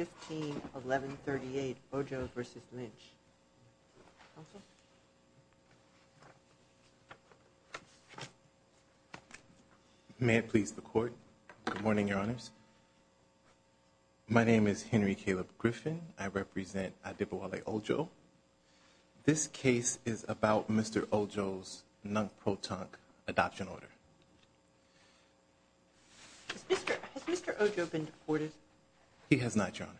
151138 Ojo v. Lynch May it please the court good morning your honors My name is Henry Caleb Griffin. I represent Adebowale Ojo This case is about mr. Ojo's non-proton adoption order Mr. Ojo been deported he has not your honor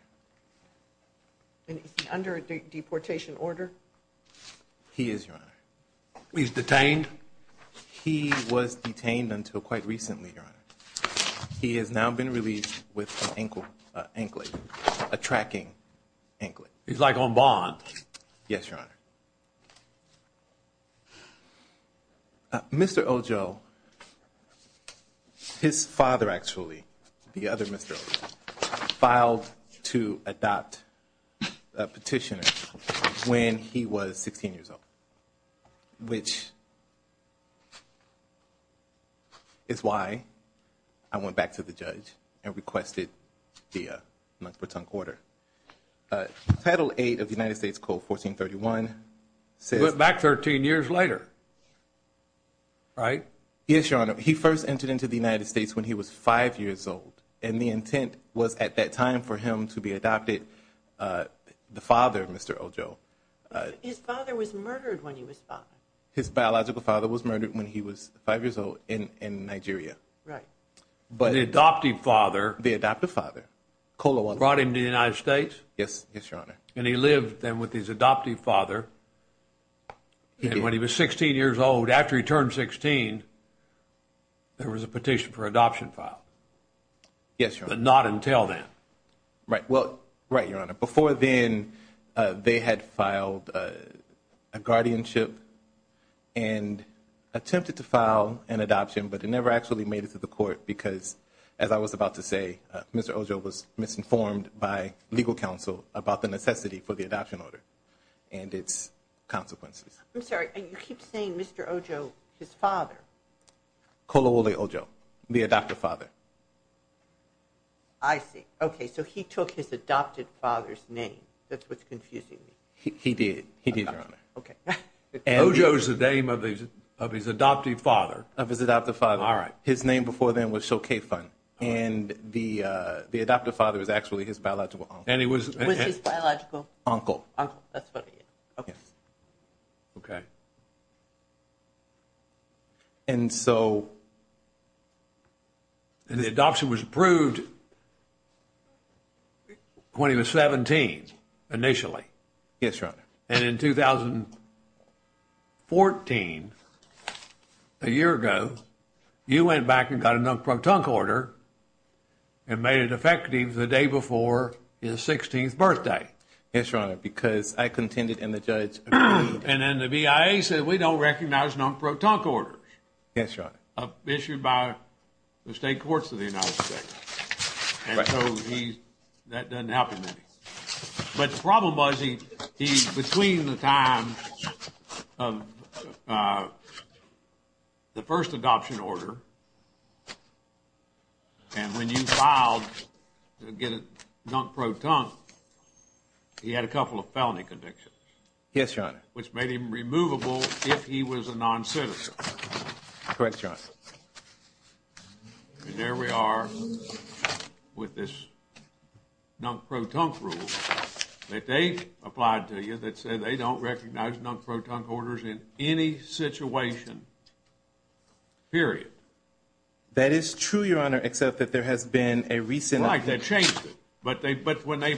And under a deportation order He is your honor. He's detained He was detained until quite recently He has now been released with ankle ankle a tracking ankle. He's like on bond. Yes, your honor Mr. Ojo His father actually the other mr. Ojo filed to adopt a petitioner when he was 16 years old which Is why I went back to the judge and requested the month-per-ton quarter Title 8 of the United States Code 1431 Say it back 13 years later All right Yes, your honor He first entered into the United States when he was five years old and the intent was at that time for him to be adopted the father of mr. Ojo His biological father was murdered when he was five years old in in Nigeria, right But the adoptive father the adoptive father Kolo brought him to the United States. Yes. Yes, your honor, and he lived then with his adoptive father And when he was 16 years old after he turned 16 There was a petition for adoption file Yes, but not until then right? Well, right your honor before then they had filed a guardianship and Attempted to file an adoption, but it never actually made it to the court because as I was about to say, mr Ojo was misinformed by legal counsel about the necessity for the adoption order and it's Consequences. I'm sorry. You keep saying mr. Ojo his father Kolo, they all Joe the adoptive father. I See, okay, so he took his adopted father's name. That's what's confusing me. He did he did Joe's the name of these of his adoptive father of his adoptive father all right, his name before then was so K fun and the the adoptive father is actually his biological and he was Uncle Okay And so The adoption was approved When he was 17 initially, yes, right and in 2014 a year ago You went back and got a number of tongue quarter And made it effective the day before his 16th birthday Yes, your honor because I contended in the judge and then the BIA said we don't recognize non pro-talk orders Yes, your honor issued by the state courts of the United States But the problem was he he's between the time The first adoption order And when you filed Get it not pro-talk He had a couple of felony convictions. Yes, your honor, which made him removable if he was a non-citizen correct John There we are with this Not pro-talk rule that they applied to you that said they don't recognize non pro-talk orders in any situation Period That is true. Your honor except that there has been a recent like that changed it But when they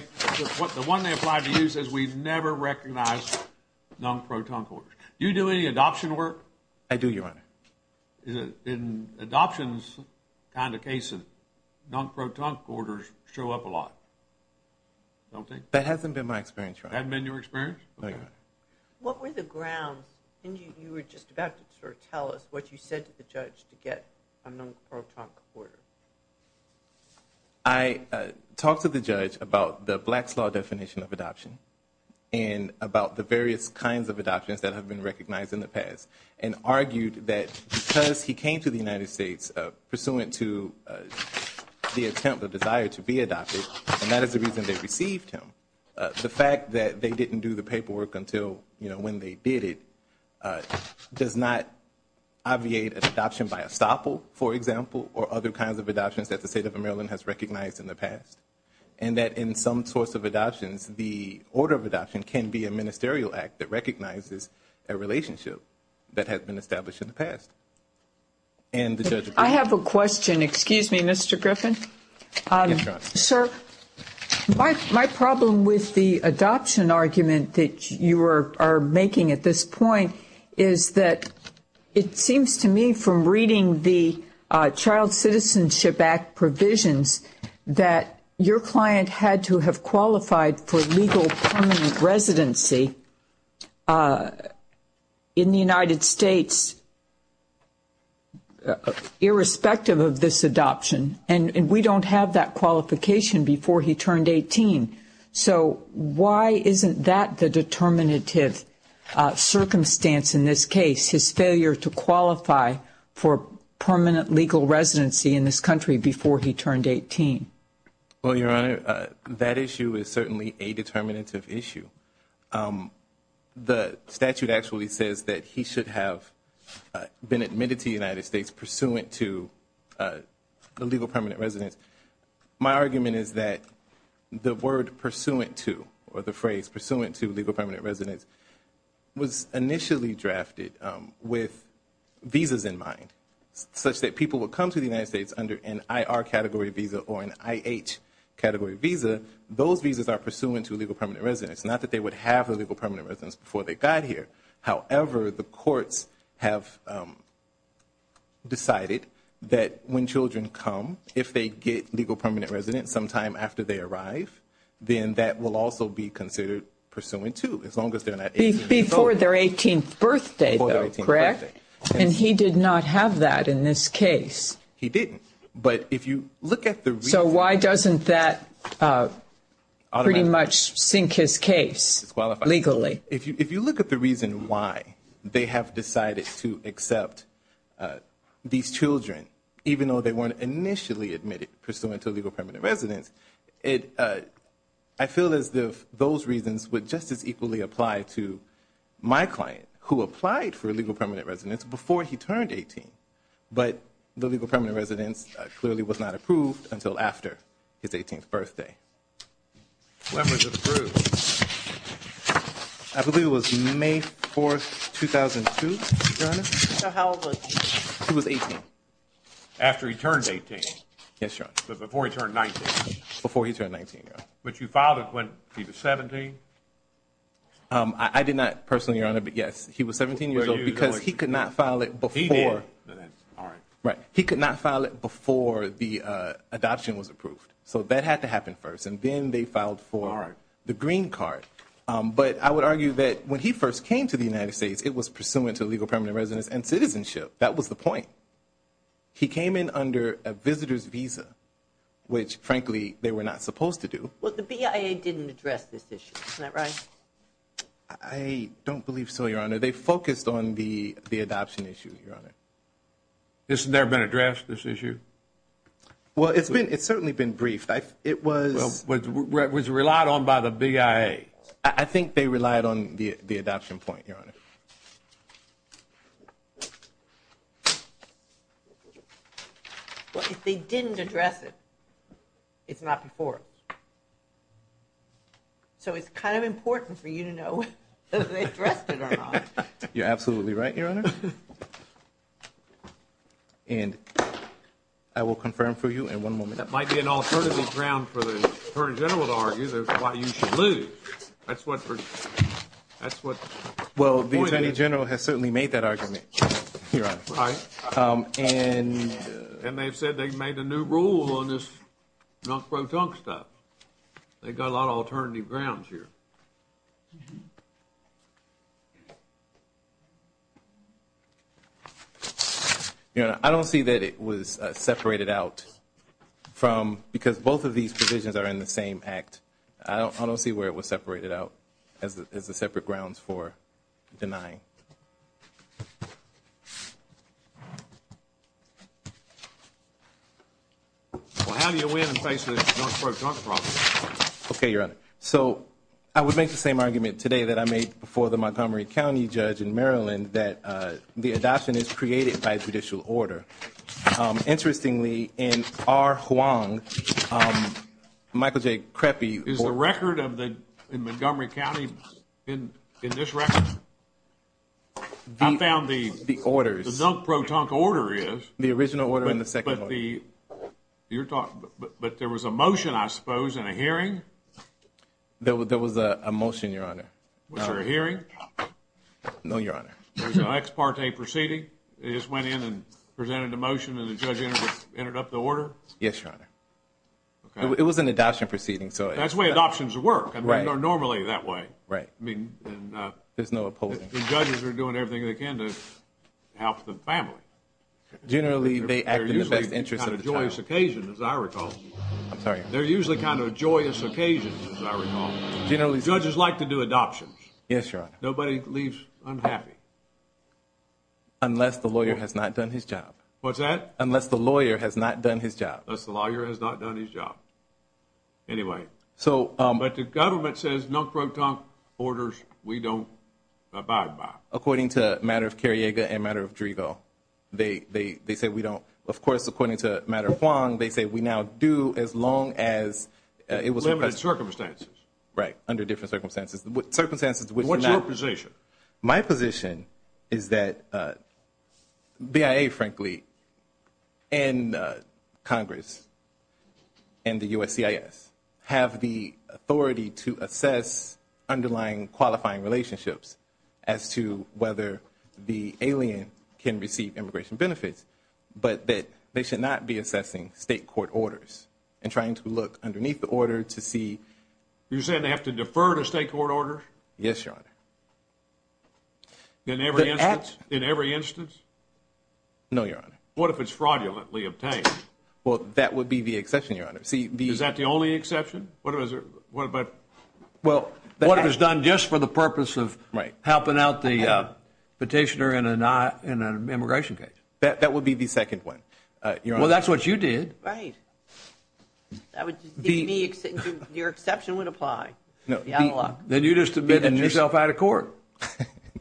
what the one they applied to use as we've never recognized Non pro-talk orders you do any adoption work. I do your honor in Adoptions kind of case of non pro-talk orders show up a lot Don't think that hasn't been my experience. I've been your experience What were the grounds and you were just about to tell us what you said to the judge to get a non pro-talk order? I Talked to the judge about the Blacks law definition of adoption and about the various kinds of adoptions that have been recognized in the past and argued that because he came to the United States pursuant to The attempt of desire to be adopted and that is the reason they received him The fact that they didn't do the paperwork until you know when they did it does not Obviate an adoption by estoppel for example or other kinds of adoptions that the state of Maryland has recognized in the past and that in some sorts of adoptions the order of adoption can be a ministerial act that recognizes a Relationship that has been established in the past And the judge I have a question. Excuse me. Mr. Griffin sir My problem with the adoption argument that you are making at this point Is that it seems to me from reading the Child Citizenship Act? Provisions that your client had to have qualified for legal permanent residency In the United States Irrespective of this adoption and and we don't have that qualification before he turned 18 So why isn't that the determinative? Circumstance in this case his failure to qualify for permanent legal residency in this country before he turned 18 Well, your honor that issue is certainly a determinative issue The statute actually says that he should have been admitted to the United States pursuant to the legal permanent residence My argument is that The word pursuant to or the phrase pursuant to legal permanent residence was initially drafted with Visas in mind such that people would come to the United States under an IR category visa or an IH Category visa those visas are pursuant to legal permanent residence. Not that they would have a legal permanent residence before they got here however, the courts have Decided that when children come if they get legal permanent residence sometime after they arrive Then that will also be considered pursuant to as long as they're not before their 18th birthday Correct, and he did not have that in this case. He didn't but if you look at the so why doesn't that Pretty much sink his case Legally if you if you look at the reason why they have decided to accept these children even though they weren't initially admitted pursuant to legal permanent residence it I feel as if those reasons would just as equally apply to My client who applied for a legal permanent residence before he turned 18 But the legal permanent residence clearly was not approved until after his 18th birthday I believe it was May 4th 2002 He was 18 After he turned 18. Yes, sir, but before he turned 19 before he turned 19, but you filed it when he was 17 I did not personally your honor, but yes, he was 17 years old because he could not file it before Right. He could not file it before the Adoption was approved. So that had to happen first and then they filed for the green card But I would argue that when he first came to the United States, it was pursuant to legal permanent residence and citizenship That was the point He came in under a visitor's visa Which frankly they were not supposed to do what the BIA didn't address this issue, right? I Don't believe so. Your honor. They focused on the the adoption issue your honor This has never been addressed this issue Well, it's been it's certainly been briefed. I it was was relied on by the BIA I think they relied on the the adoption point your honor They didn't address it it's not before So it's kind of important for you to know You're absolutely right your honor And I Will confirm for you in one moment that might be an alternative ground for the Attorney General to argue Why you should lose that's what? That's what well, the Attorney General has certainly made that argument right and And they've said they've made a new rule on this Not pro-tunk stuff They got a lot of alternative grounds here Yeah, I don't see that it was separated out From because both of these provisions are in the same act I don't see where it was separated out as the separate grounds for denying Okay, your honor so I would make the same argument today that I made before the Montgomery County judge in Maryland that The adoption is created by judicial order Interestingly in our Huang Michael J. Creppy is the record of the in Montgomery County in in this record I found the the order is no pro-tunk order is the original order in the second but the You're talking but there was a motion. I suppose in a hearing There was there was a motion your honor. What's your hearing? No, your honor the next part a proceeding it just went in and presented a motion and the judge ended up the order Yes, your honor Okay, it was an adoption proceeding. So that's way adoptions work. I mean are normally that way, right? I mean, there's no opposing judges are doing everything they can to help the family Generally, they act in the best interest of the joyous occasion as I recall. I'm sorry They're usually kind of joyous occasions Generally judges like to do adoptions. Yes, your honor. Nobody leaves. I'm happy Unless the lawyer has not done his job. What's that? Unless the lawyer has not done his job. That's the lawyer has not done his job Anyway, so but the government says no pro-tunk orders. We don't Abide by according to matter of Carriega and matter of Driegel They they they say we don't of course according to matter of Huang. They say we now do as long as It was limited circumstances, right under different circumstances what circumstances with what's your position? My position is that? BIA frankly and Congress and the USCIS have the authority to assess underlying qualifying relationships as to whether the alien can receive immigration benefits But that they should not be assessing state court orders and trying to look underneath the order to see You're saying they have to defer to state court orders. Yes, your honor In every in every instance No, your honor. What if it's fraudulently obtained? Well, that would be the exception your honor. See the is that the only exception? What is it? What about? well, what has done just for the purpose of right helping out the Petitioner in a not in an immigration case that that would be the second one. Well, that's what you did, right? Your exception would apply no, yeah, then you just admitted yourself out of court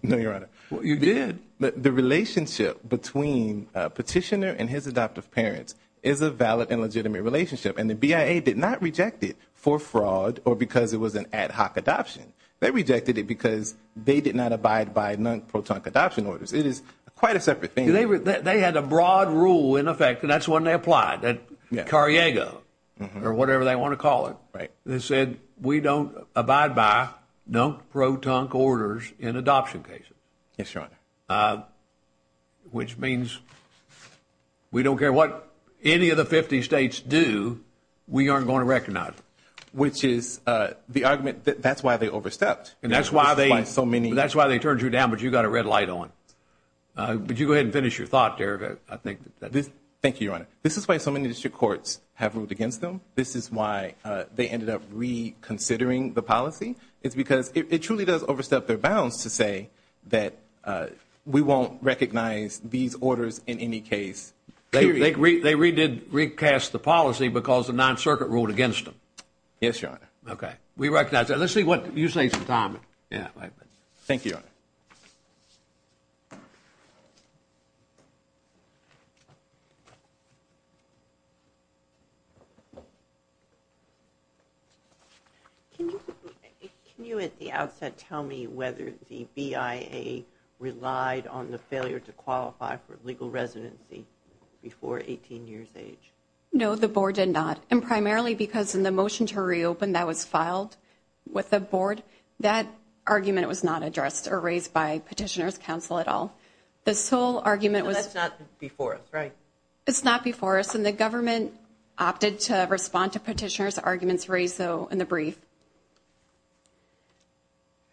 No, your honor. Well, you did but the relationship between Petitioner and his adoptive parents is a valid and legitimate relationship and the BIA did not reject it for fraud or because it was an ad Adoption they rejected it because they did not abide by non-proton adoption orders It is quite a separate thing. They were they had a broad rule in effect. And that's when they applied that Cariego or whatever they want to call it, right? They said we don't abide by No pro-tunk orders in adoption cases. Yes, your honor which means We don't care what any of the 50 states do We aren't going to recognize which is the argument that that's why they overstepped and that's why they have so many That's why they turned you down, but you got a red light on But you go ahead and finish your thought there. I think this. Thank you, your honor This is why so many district courts have ruled against them. This is why they ended up reconsidering the policy it's because it truly does overstep their bounds to say that We won't recognize these orders in any case They redid recast the policy because the non-circuit ruled against them. Yes, your honor. Okay, we recognize that Let's see what you say some time. Yeah, thank you Can you at the outset tell me whether the BIA Relied on the failure to qualify for legal residency Before 18 years age. No the board did not and primarily because in the motion to reopen that was filed With the board that argument was not addressed or raised by Petitioners Council at all The sole argument was not before us, right? It's not before us and the government opted to respond to petitioners arguments raised though in the brief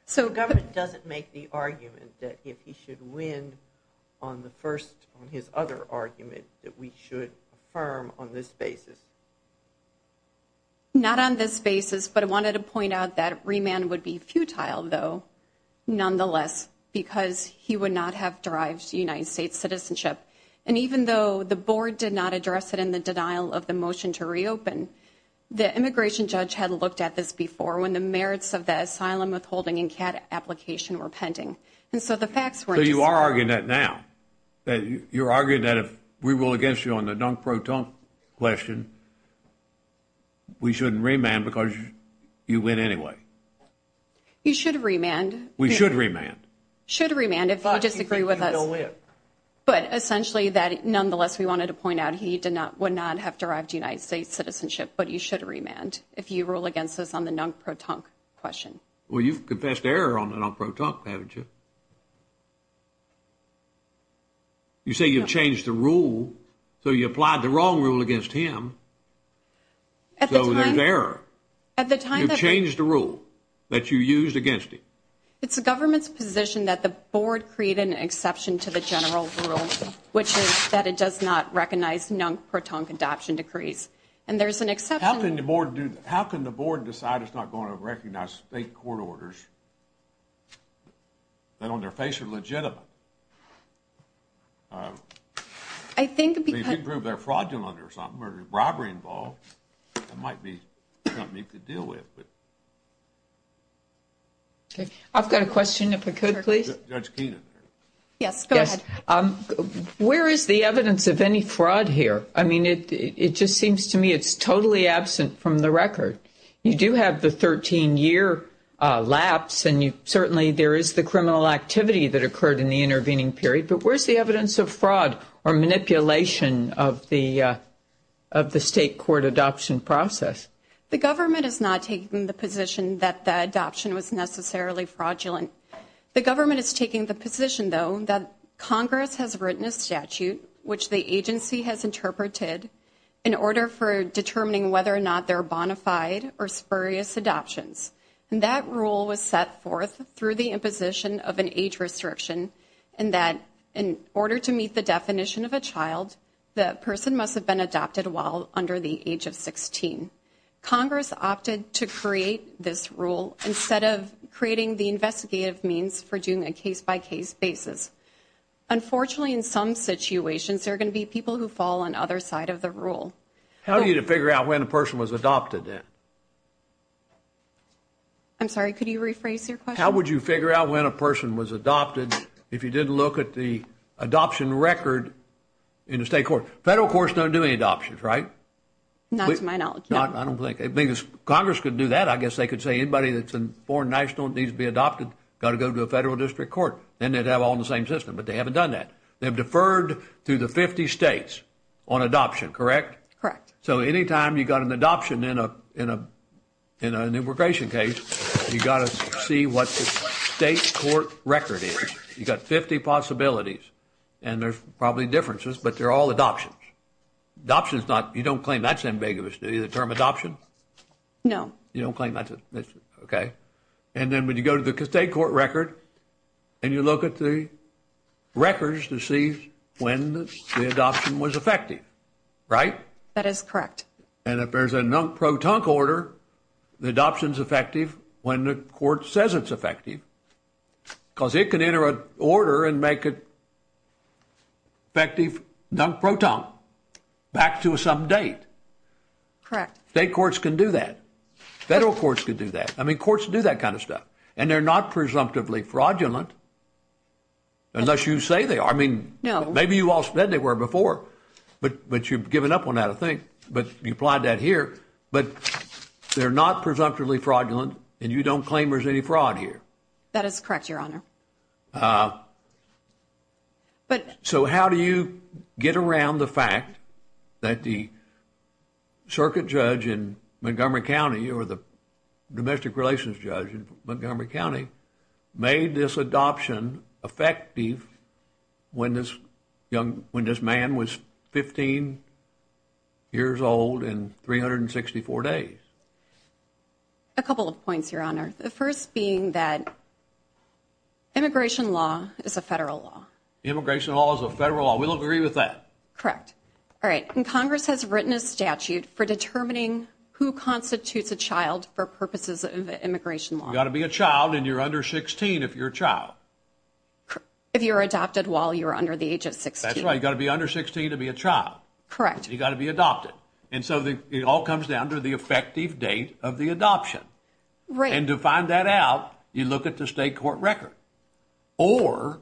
So Government doesn't make the argument that if he should win on the first on his other argument that we should affirm on this basis Not on this basis, but I wanted to point out that remand would be futile though Nonetheless because he would not have derived United States citizenship And even though the board did not address it in the denial of the motion to reopen The immigration judge had looked at this before when the merits of the asylum withholding and CAD Application were pending and so the facts were you are arguing that now You're arguing that if we will against you on the dunk-pro-dunk question We shouldn't remand because you win anyway You should remand we should remand should remand if I disagree with us But essentially that nonetheless we wanted to point out he did not would not have derived United States citizenship But you should remand if you rule against us on the dunk-pro-dunk question. Well, you've confessed error on the dunk-pro-dunk haven't you? You say you've changed the rule so you applied the wrong rule against him At the time there at the time you've changed the rule that you used against it It's the government's position that the board created an exception to the general rule Which is that it does not recognize non-proton adoption decrees and there's an exception the board do that How can the board decide it's not going to recognize state court orders? That on their face are legitimate I Think they prove they're fraudulent or something or robbery involved. It might be something you could deal with but Okay, I've got a question if I could please Yes Where is the evidence of any fraud here? I mean it it just seems to me It's totally absent from the record. You do have the 13-year Lapse and you certainly there is the criminal activity that occurred in the intervening period but where's the evidence of fraud or manipulation of the State court adoption process the government is not taking the position that the adoption was necessarily fraudulent The government is taking the position though that Congress has written a statute Which the agency has interpreted in order for determining whether or not they're bona fide or spurious adoptions and that rule was set forth through the imposition of an age restriction and that in To meet the definition of a child the person must have been adopted while under the age of 16 Congress opted to create this rule instead of creating the investigative means for doing a case-by-case basis Unfortunately in some situations there are going to be people who fall on other side of the rule How do you to figure out when a person was adopted in? I'm sorry, could you rephrase your question? How would you figure out when a person was adopted if you didn't look at the adoption record in the state court federal courts Don't do any adoptions, right? Not to my knowledge. I don't think a biggest Congress could do that I guess they could say anybody that's in foreign national needs to be adopted got to go to a federal district court Then they'd have all in the same system, but they haven't done that they've deferred to the 50 states on adoption, correct? Correct. So anytime you got an adoption in a in a in an immigration case You got to see what the state court record is you got 50 possibilities and there's probably differences But they're all adoptions Adoptions not you don't claim that's ambiguous. Do you the term adoption? No, you don't claim that's it. Okay, and then when you go to the state court record and you look at the Records to see when the adoption was effective, right? That is correct. And if there's a non pro-tunk order the adoptions effective when the court says it's effective Because it can enter an order and make it Effective non pro-tunk back to some date Correct state courts can do that federal courts could do that. I mean courts do that kind of stuff and they're not presumptively fraudulent Unless you say they are I mean, you know, maybe you all said they were before but but you've given up on that I think but you applied that here, but They're not presumptively fraudulent and you don't claim there's any fraud here. That is correct your honor But so how do you get around the fact that the circuit judge in Montgomery County or the Domestic relations judge in Montgomery County made this adoption effective When this young when this man was 15 years old in 364 days a couple of points your honor the first being that Immigration law is a federal law immigration laws a federal law. We don't agree with that. Correct All right, and Congress has written a statute for determining who constitutes a child for purposes of immigration We ought to be a child and you're under 16 if you're a child If you're adopted while you're under the age of six, that's right You got to be under 16 to be a child Correct. You got to be adopted and so the it all comes down to the effective date of the adoption right and to find that out you look at the state court record or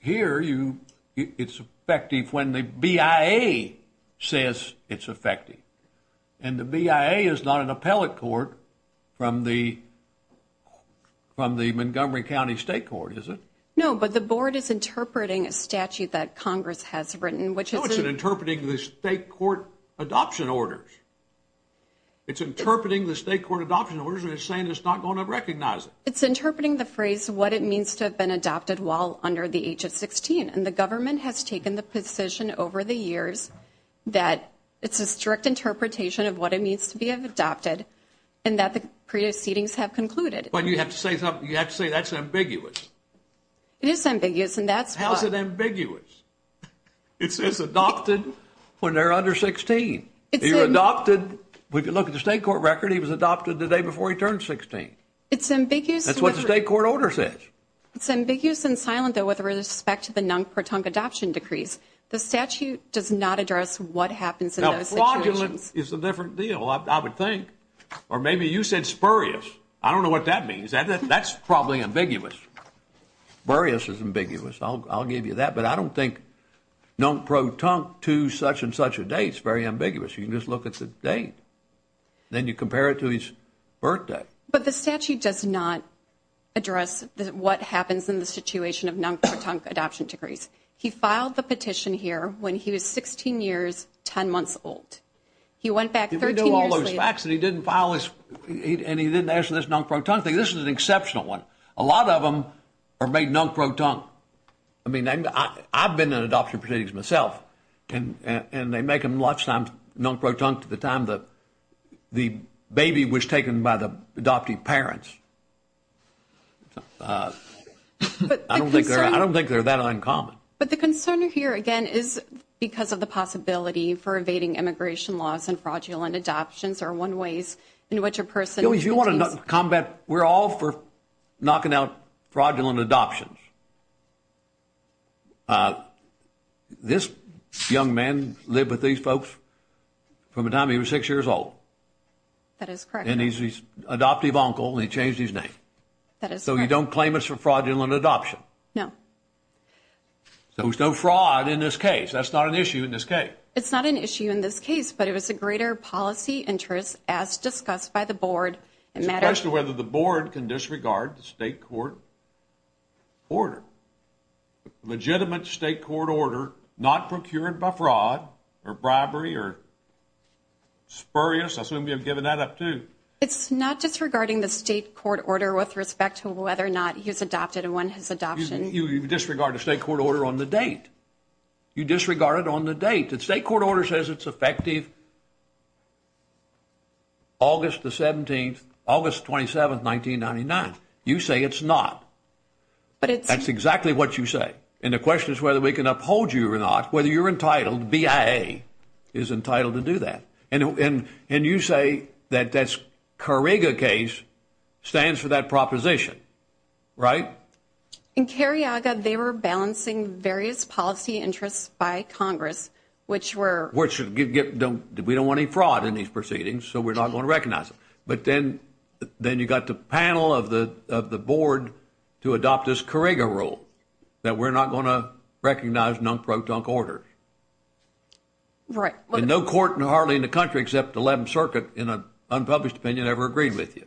Here you it's effective when the BIA says it's effective and the BIA is not an appellate court from the From the Montgomery County State Court, is it? No, but the board is interpreting a statute that Congress has written Which is interpreting the state court adoption orders It's interpreting the state court adoption orders and it's saying it's not going to recognize it Interpreting the phrase what it means to have been adopted while under the age of 16 and the government has taken the position over the years that It's a strict interpretation of what it means to be of adopted and that the previous seatings have concluded But you have to say something you have to say that's ambiguous It is ambiguous and that's how is it ambiguous? It says adopted when they're under 16. It's adopted. We can look at the state court record Adopted the day before he turned 16. It's ambiguous. That's what the state court order says It's ambiguous and silent though with respect to the non-pertunct adoption decrees The statute does not address what happens in those situations. It's a different deal I would think or maybe you said spurious. I don't know what that means that that's probably ambiguous Various is ambiguous. I'll give you that but I don't think Don't proton to such-and-such a date. It's very ambiguous. You can just look at the date Then you compare it to his birthday, but the statute does not Address that what happens in the situation of non-pertunct adoption decrees He filed the petition here when he was 16 years 10 months old He went back to do all those facts and he didn't file his and he didn't answer this non-pertunct This is an exceptional one. A lot of them are made non-pertunct. I mean, I've been in adoption proceedings myself And and they make them lots I'm non-pertunct at the time that the baby was taken by the adoptive parents I don't think they're that uncommon But the concern here again is because of the possibility for evading immigration laws and fraudulent adoptions are one ways In which a person if you want to not combat we're all for knocking out fraudulent adoptions Uh This young man lived with these folks From a time. He was six years old That is correct. And he's he's adoptive uncle. He changed his name. That is so you don't claim us for fraudulent adoption. No So there's no fraud in this case. That's not an issue in this case It's not an issue in this case But it was a greater policy interest as discussed by the board and matter as to whether the board can disregard the state court Order Legitimate state court order not procured by fraud or bribery or Spurious assume you've given that up to it's not just regarding the state court order with respect to whether or not he's adopted and when His adoption you disregard the state court order on the date You disregard it on the date that state court order says it's effective August the 17th August 27th 1999 you say it's not But it's that's exactly what you say And the question is whether we can uphold you or not whether you're entitled BIA is Entitled to do that and and and you say that that's kariga case stands for that proposition right In Carriaga, they were balancing various policy interests by Congress Which were which should get don't do we don't want any fraud in these proceedings? So we're not going to recognize it Then you got the panel of the of the board to adopt this kariga rule that we're not going to recognize non-protocol order Right, but no court and hardly in the country except 11th Circuit in a unpublished opinion ever agreed with you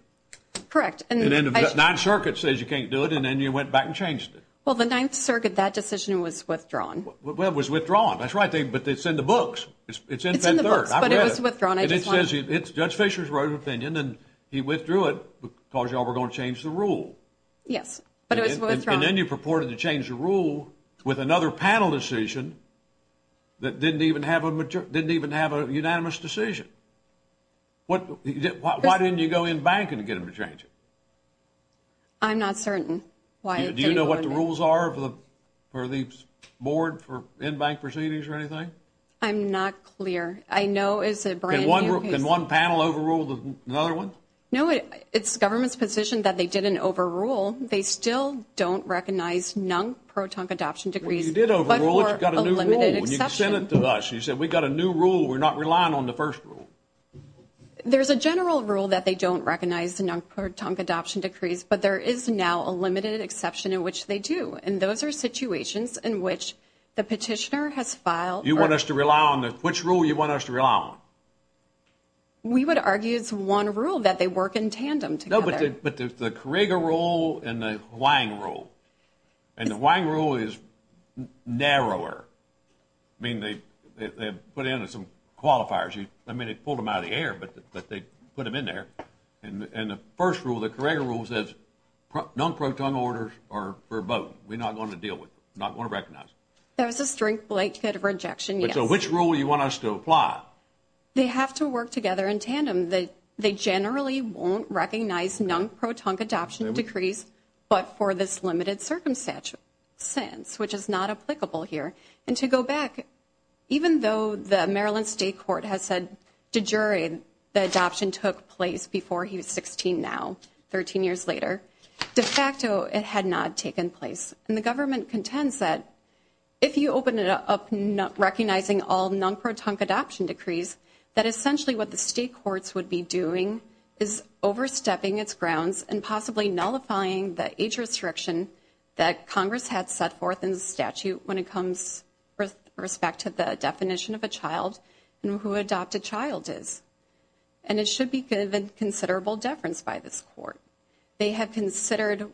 Correct and then the 9th Circuit says you can't do it and then you went back and changed it Well, the 9th Circuit that decision was withdrawn. Well was withdrawn. That's right thing, but they send the books It's it's in the third It says it's judge Fischer's wrote opinion and he withdrew it because y'all were going to change the rule Yes, but it was then you purported to change the rule with another panel decision That didn't even have a mature didn't even have a unanimous decision What why didn't you go in bank and get him to change it? I'm not certain. Why do you know what the rules are for the for the board for in bank proceedings or anything? I'm not clear. I know is it one one panel overruled another one? No, it it's government's position that they did an overrule. They still don't recognize non-protocol adoption decrees You said we got a new rule we're not relying on the first rule There's a general rule that they don't recognize the non-protocol adoption decrees But there is now a limited exception in which they do and those are Situations in which the petitioner has filed you want us to rely on that which rule you want us to rely on We would argue it's one rule that they work in tandem to know but did but there's the Korygo rule and the Hwang rule and the Hwang rule is narrower Mean they put in some qualifiers you I mean it pulled him out of the air But but they put him in there and the first rule the Korygo rule says Non-protocol orders are verboten. We're not going to deal with not going to recognize. There's a strength like that of rejection So which rule you want us to apply? They have to work together in tandem that they generally won't recognize non-protocol adoption decrees But for this limited circumstance Which is not applicable here and to go back Even though the Maryland State Court has said to jury the adoption took place before he was 16 now 13 years later de facto it had not taken place and the government contends that if you open it up not recognizing all non-protocol adoption decrees that essentially what the state courts would be doing is Overstepping its grounds and possibly nullifying the age restriction that Congress had set forth in the statute when it comes respect to the definition of a child and who adopt a child is and It should be given considerable deference by this court They have considered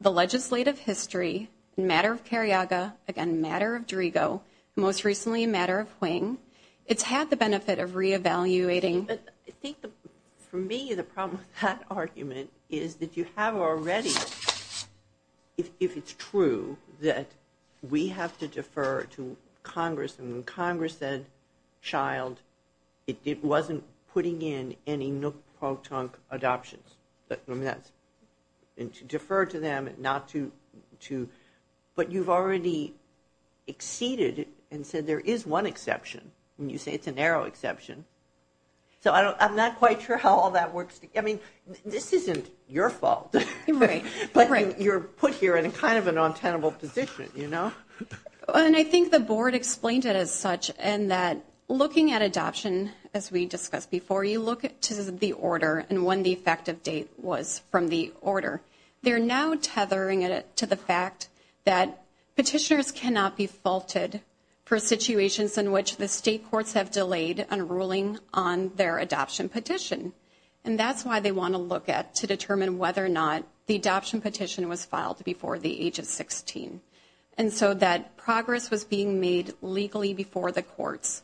the legislative history Matter of Karyaga again matter of Driego most recently a matter of wing. It's had the benefit of Re-evaluating, but I think for me the problem that argument is that you have already If it's true that we have to defer to Congress and Congress said Child it wasn't putting in any no proton adoptions, but I mean that's and to defer to them and not to to but you've already Exceeded and said there is one exception when you say it's a narrow exception So I don't I'm not quite sure how all that works. I mean this isn't your fault Right, but you're put here in a kind of a non-tenable position, you know And I think the board explained it as such and that Looking at adoption as we discussed before you look at to the order and when the effective date was from the order They're now tethering it to the fact that Petitioners cannot be faulted for situations in which the state courts have delayed on ruling on their adoption petition and that's why they want to look at to determine whether or not the adoption petition was filed before the age of 16 and so that progress was being made legally before the courts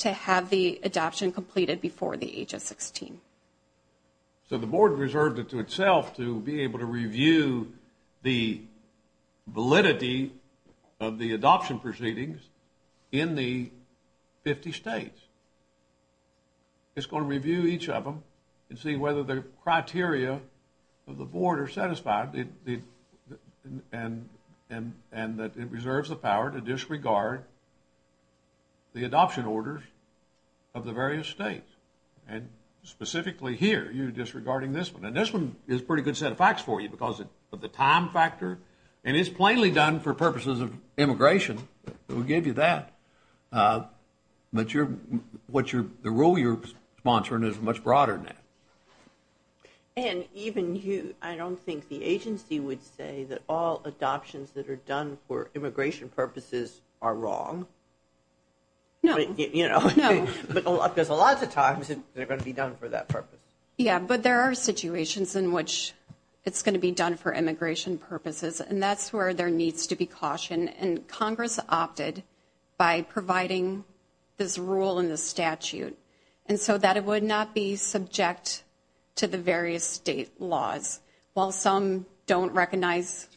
To have the adoption completed before the age of 16 so the board reserved it to itself to be able to review the Validity of the adoption proceedings in the 50 states It's going to review each of them and see whether the criteria of the board are satisfied And and and that it reserves the power to disregard the adoption orders of the various states and Specifically here you're disregarding this one And this one is pretty good set of facts for you because of the time factor and it's plainly done for purposes of immigration It will give you that But you're what you're the rule you're sponsoring is much broader than that Even you I don't think the agency would say that all adoptions that are done for immigration purposes are wrong No, you know no, but there's a lot of times. They're going to be done for that purpose Yeah But there are situations in which it's going to be done for immigration purposes And that's where there needs to be caution and Congress opted by providing This rule in the statute and so that it would not be subject to the various state laws while some don't recognize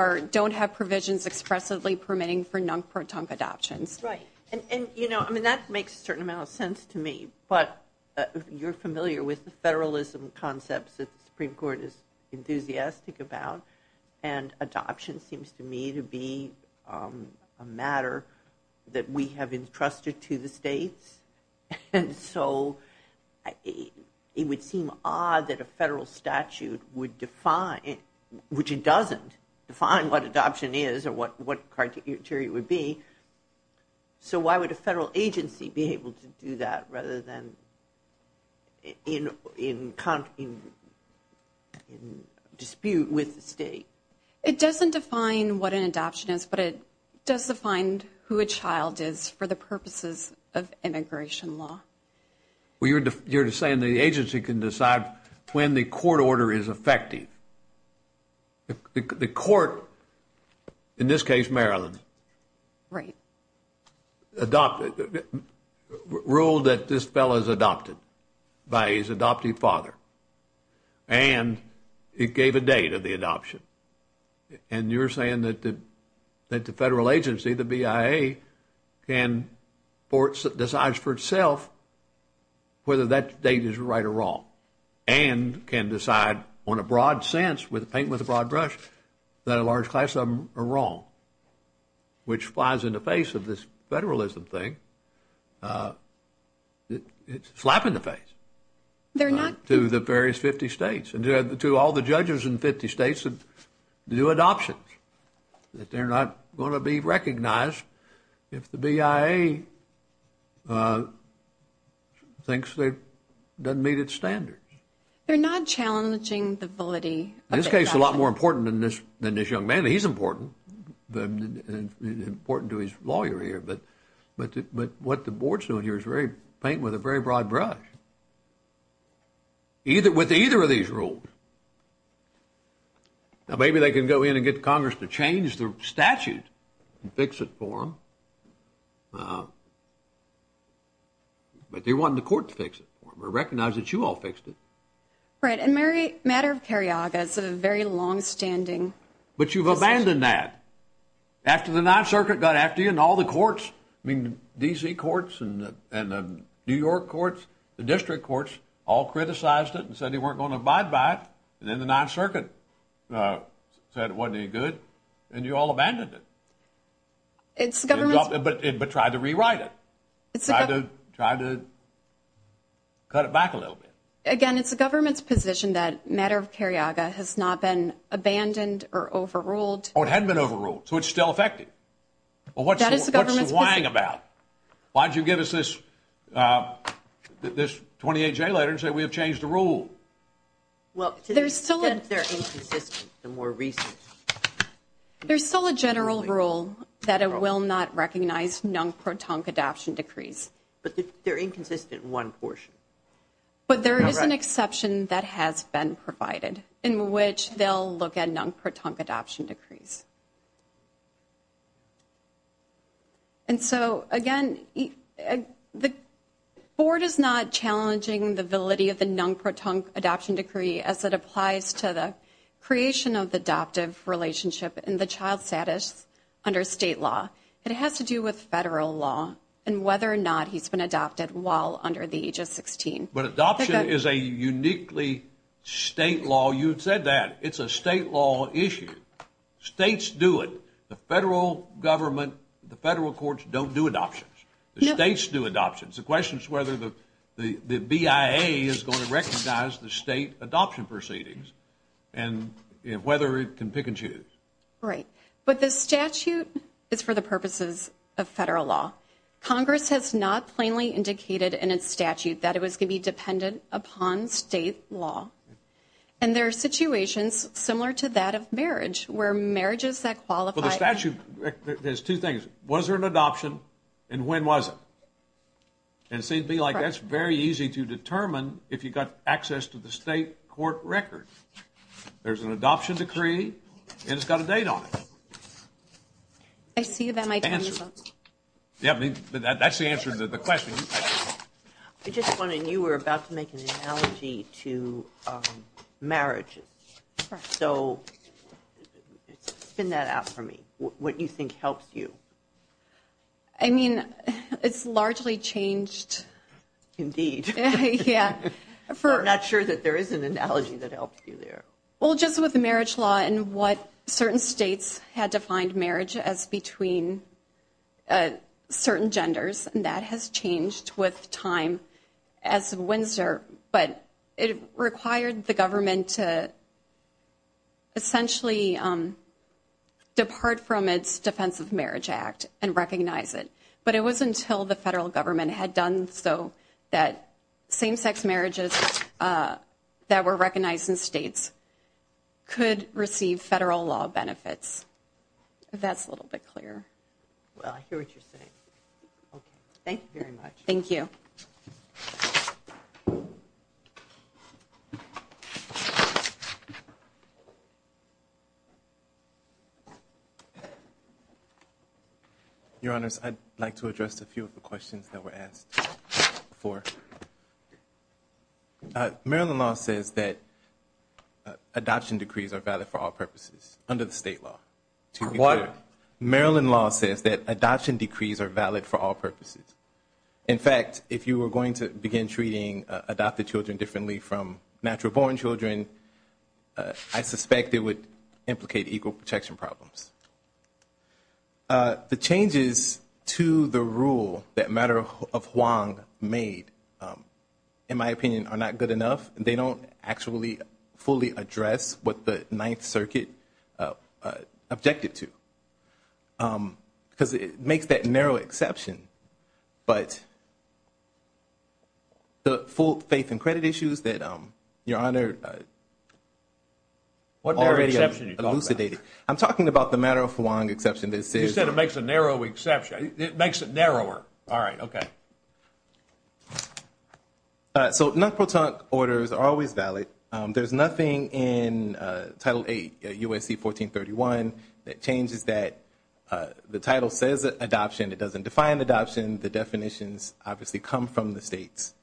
Or don't have provisions expressively permitting for non-proton adoptions, right and you know I mean that makes a certain amount of sense to me, but you're familiar with the federalism concepts that the Supreme Court is enthusiastic about and adoption seems to me to be a That we have entrusted to the states and so It would seem odd that a federal statute would define Which it doesn't define what adoption is or what what criteria would be? So why would a federal agency be able to do that rather than? in in In Dispute with the state it doesn't define what an adoption is But it does the find who a child is for the purposes of immigration law Well, you're just saying the agency can decide when the court order is effective The court in this case, Maryland, right Adopted Ruled that this fellow is adopted by his adoptive father and It gave a date of the adoption and you're saying that the that the federal agency the BIA can ports decides for itself Whether that date is right or wrong and can decide on a broad sense with paint with a broad brush That a large class of them are wrong Which flies in the face of this federalism thing? It's slap in the face They're not to the various 50 states and to all the judges in 50 states of new adoptions That they're not going to be recognized if the BIA Thinks they've done meet its standards They're not challenging the validity in this case a lot more important than this than this young man. He's important Then important to his lawyer here, but but but what the board's doing here is very paint with a very broad brush Either with either of these rules Now maybe they can go in and get Congress to change the statute and fix it for him But they want the court to fix it or recognize that you all fixed it And Mary matter of Carriaga is a very long-standing But you've abandoned that After the Ninth Circuit got after you and all the courts I mean DC courts and the New York courts the district courts all Criticized it and said they weren't going to abide by it and then the Ninth Circuit Said it wasn't any good and you all abandoned it It's government, but it but tried to rewrite it. It's a good try to Cut it back a little bit again It's the government's position that matter of Carriaga has not been abandoned or overruled or it hadn't been overruled. So it's still effective Well, what's that is the government whining about? Why'd you give us this? This 28 J letters that we have changed the rule Well, there's still in there the more recent There's still a general rule that it will not recognize non-proton adoption decrees But they're inconsistent one portion But there is an exception that has been provided in which they'll look at non-proton adoption decrees And so again the Board is not challenging the validity of the non-proton adoption decree as it applies to the creation of the adoptive relationship in the child status Under state law it has to do with federal law and whether or not he's been adopted while under the age of 16 But adoption is a uniquely State law you've said that it's a state law issue States do it the federal government the federal courts don't do adoptions the states do adoptions the questions whether the the the BIA is going to recognize the state adoption proceedings and If whether it can pick and choose right, but the statute is for the purposes of federal law Congress has not plainly indicated in its statute that it was going to be dependent upon state law and There are situations similar to that of marriage where marriages that qualify the statute There's two things was there an adoption and when was it? And it seemed to be like that's very easy to determine if you got access to the state court record There's an adoption decree and it's got a date on it I See you that might answer Yeah, I mean, but that's the answer to the question. I just wanted you were about to make an analogy to Marriages so Spin that out for me what you think helps you I Mean, it's largely changed Indeed yeah for not sure that there is an analogy that helps well, just with the marriage law and what certain states had defined marriage as between a Certain genders and that has changed with time as Windsor, but it required the government to Essentially Depart from its Defense of Marriage Act and recognize it, but it was until the federal government had done So that same-sex marriages That were recognized in states Could receive federal law benefits That's a little bit clear Thank you Your honors I'd like to address a few of the questions that were asked for Maryland law says that Adoption decrees are valid for all purposes under the state law to what? Maryland law says that adoption decrees are valid for all purposes In fact, if you were going to begin treating adopted children differently from natural-born children I suspect it would implicate equal protection problems The changes to the rule that matter of Hwang made In my opinion are not good enough. They don't actually fully address what the Ninth Circuit objected to Because it makes that narrow exception, but The full faith and credit issues that um your honor What are any other Elucidated I'm talking about the matter of Hwang exception. This is that it makes a narrow exception. It makes it narrower. All right, okay So no protoc orders are always valid there's nothing in Title 8 USC 1431 that changes that The title says adoption. It doesn't define adoption. The definitions obviously come from the states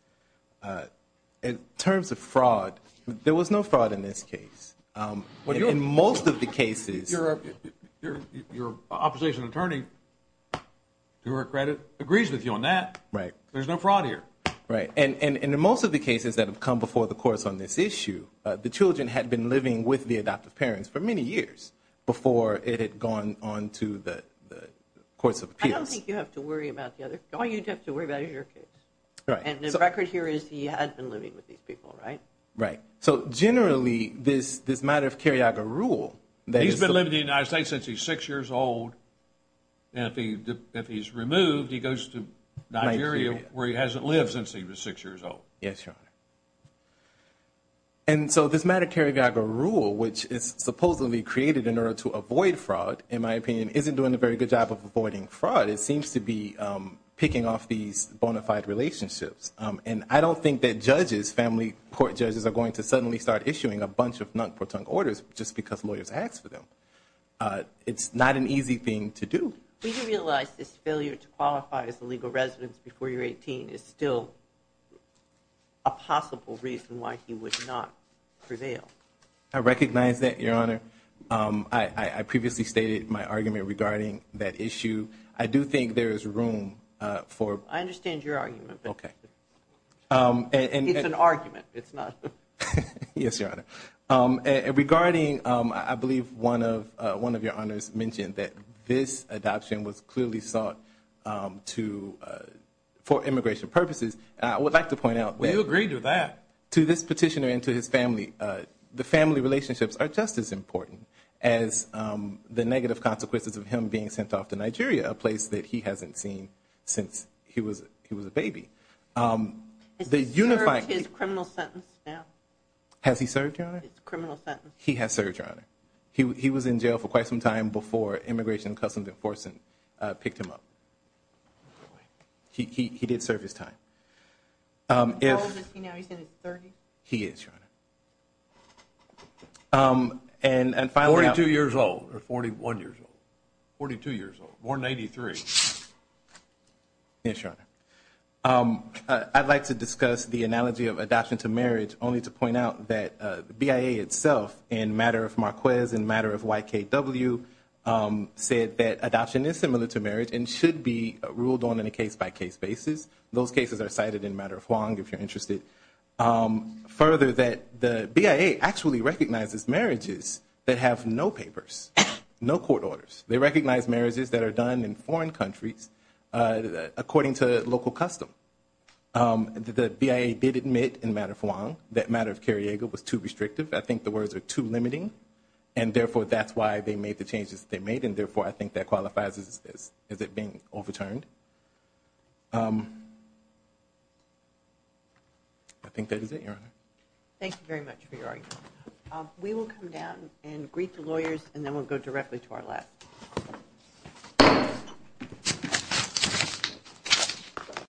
In terms of fraud there was no fraud in this case What do you in most of the cases? your opposition attorney To her credit agrees with you on that, right? There's no fraud here, right? And in the most of the cases that have come before the courts on this issue the children had been living with the adoptive parents for many years before it had gone on to the Courts of Appeals you have to worry about the other. Oh, you'd have to worry about your kids, right? And the record here is he had been living with these people, right? Right. So generally this this matter of Carriaga rule that he's been living in the United States since he's six years old And if he if he's removed he goes to Nigeria where he hasn't lived since he was six years old. Yes, your honor and So this matter Carriaga rule which is supposedly created in order to avoid fraud in my opinion isn't doing a very good job of avoiding Fraud it seems to be Picking off these bona fide relationships And I don't think that judges family court judges are going to suddenly start issuing a bunch of non-protect orders Just because lawyers asked for them It's not an easy thing to do we can realize this failure to qualify as the legal residence before you're 18 is still a Possible reason why he would not prevail. I recognize that your honor I I previously stated my argument regarding that issue. I do think there is room for I understand your argument. Okay? And it's an argument. It's not Yes, your honor Regarding I believe one of one of your honors mentioned that this adoption was clearly sought to For immigration purposes, I would like to point out. We agreed to that to this petitioner into his family the family relationships are just as important as The negative consequences of him being sent off to Nigeria a place that he hasn't seen since he was he was a baby The unified his criminal sentence now has he served criminal sentence he has served your honor He was in jail for quite some time before immigration customs enforcement picked him up He did serve his time He is And and finally two years old or 41 years old 42 years old born 83 I Like to discuss the analogy of adoption to marriage only to point out that the BIA itself in matter of Marquez and matter of Ykw Said that adoption is similar to marriage and should be ruled on in a case-by-case basis Those cases are cited in matter of long if you're interested Further that the BIA actually recognizes marriages that have no papers No court orders, they recognize marriages that are done in foreign countries according to local custom The BIA did admit in matter of long that matter of Carriego was too restrictive I think the words are too limiting and Therefore that's why they made the changes they made and therefore I think that qualifies as is is it being overturned? I Think that is it your honor. Thank you very much for your argument We will come down and greet the lawyers and then we'll go directly to our left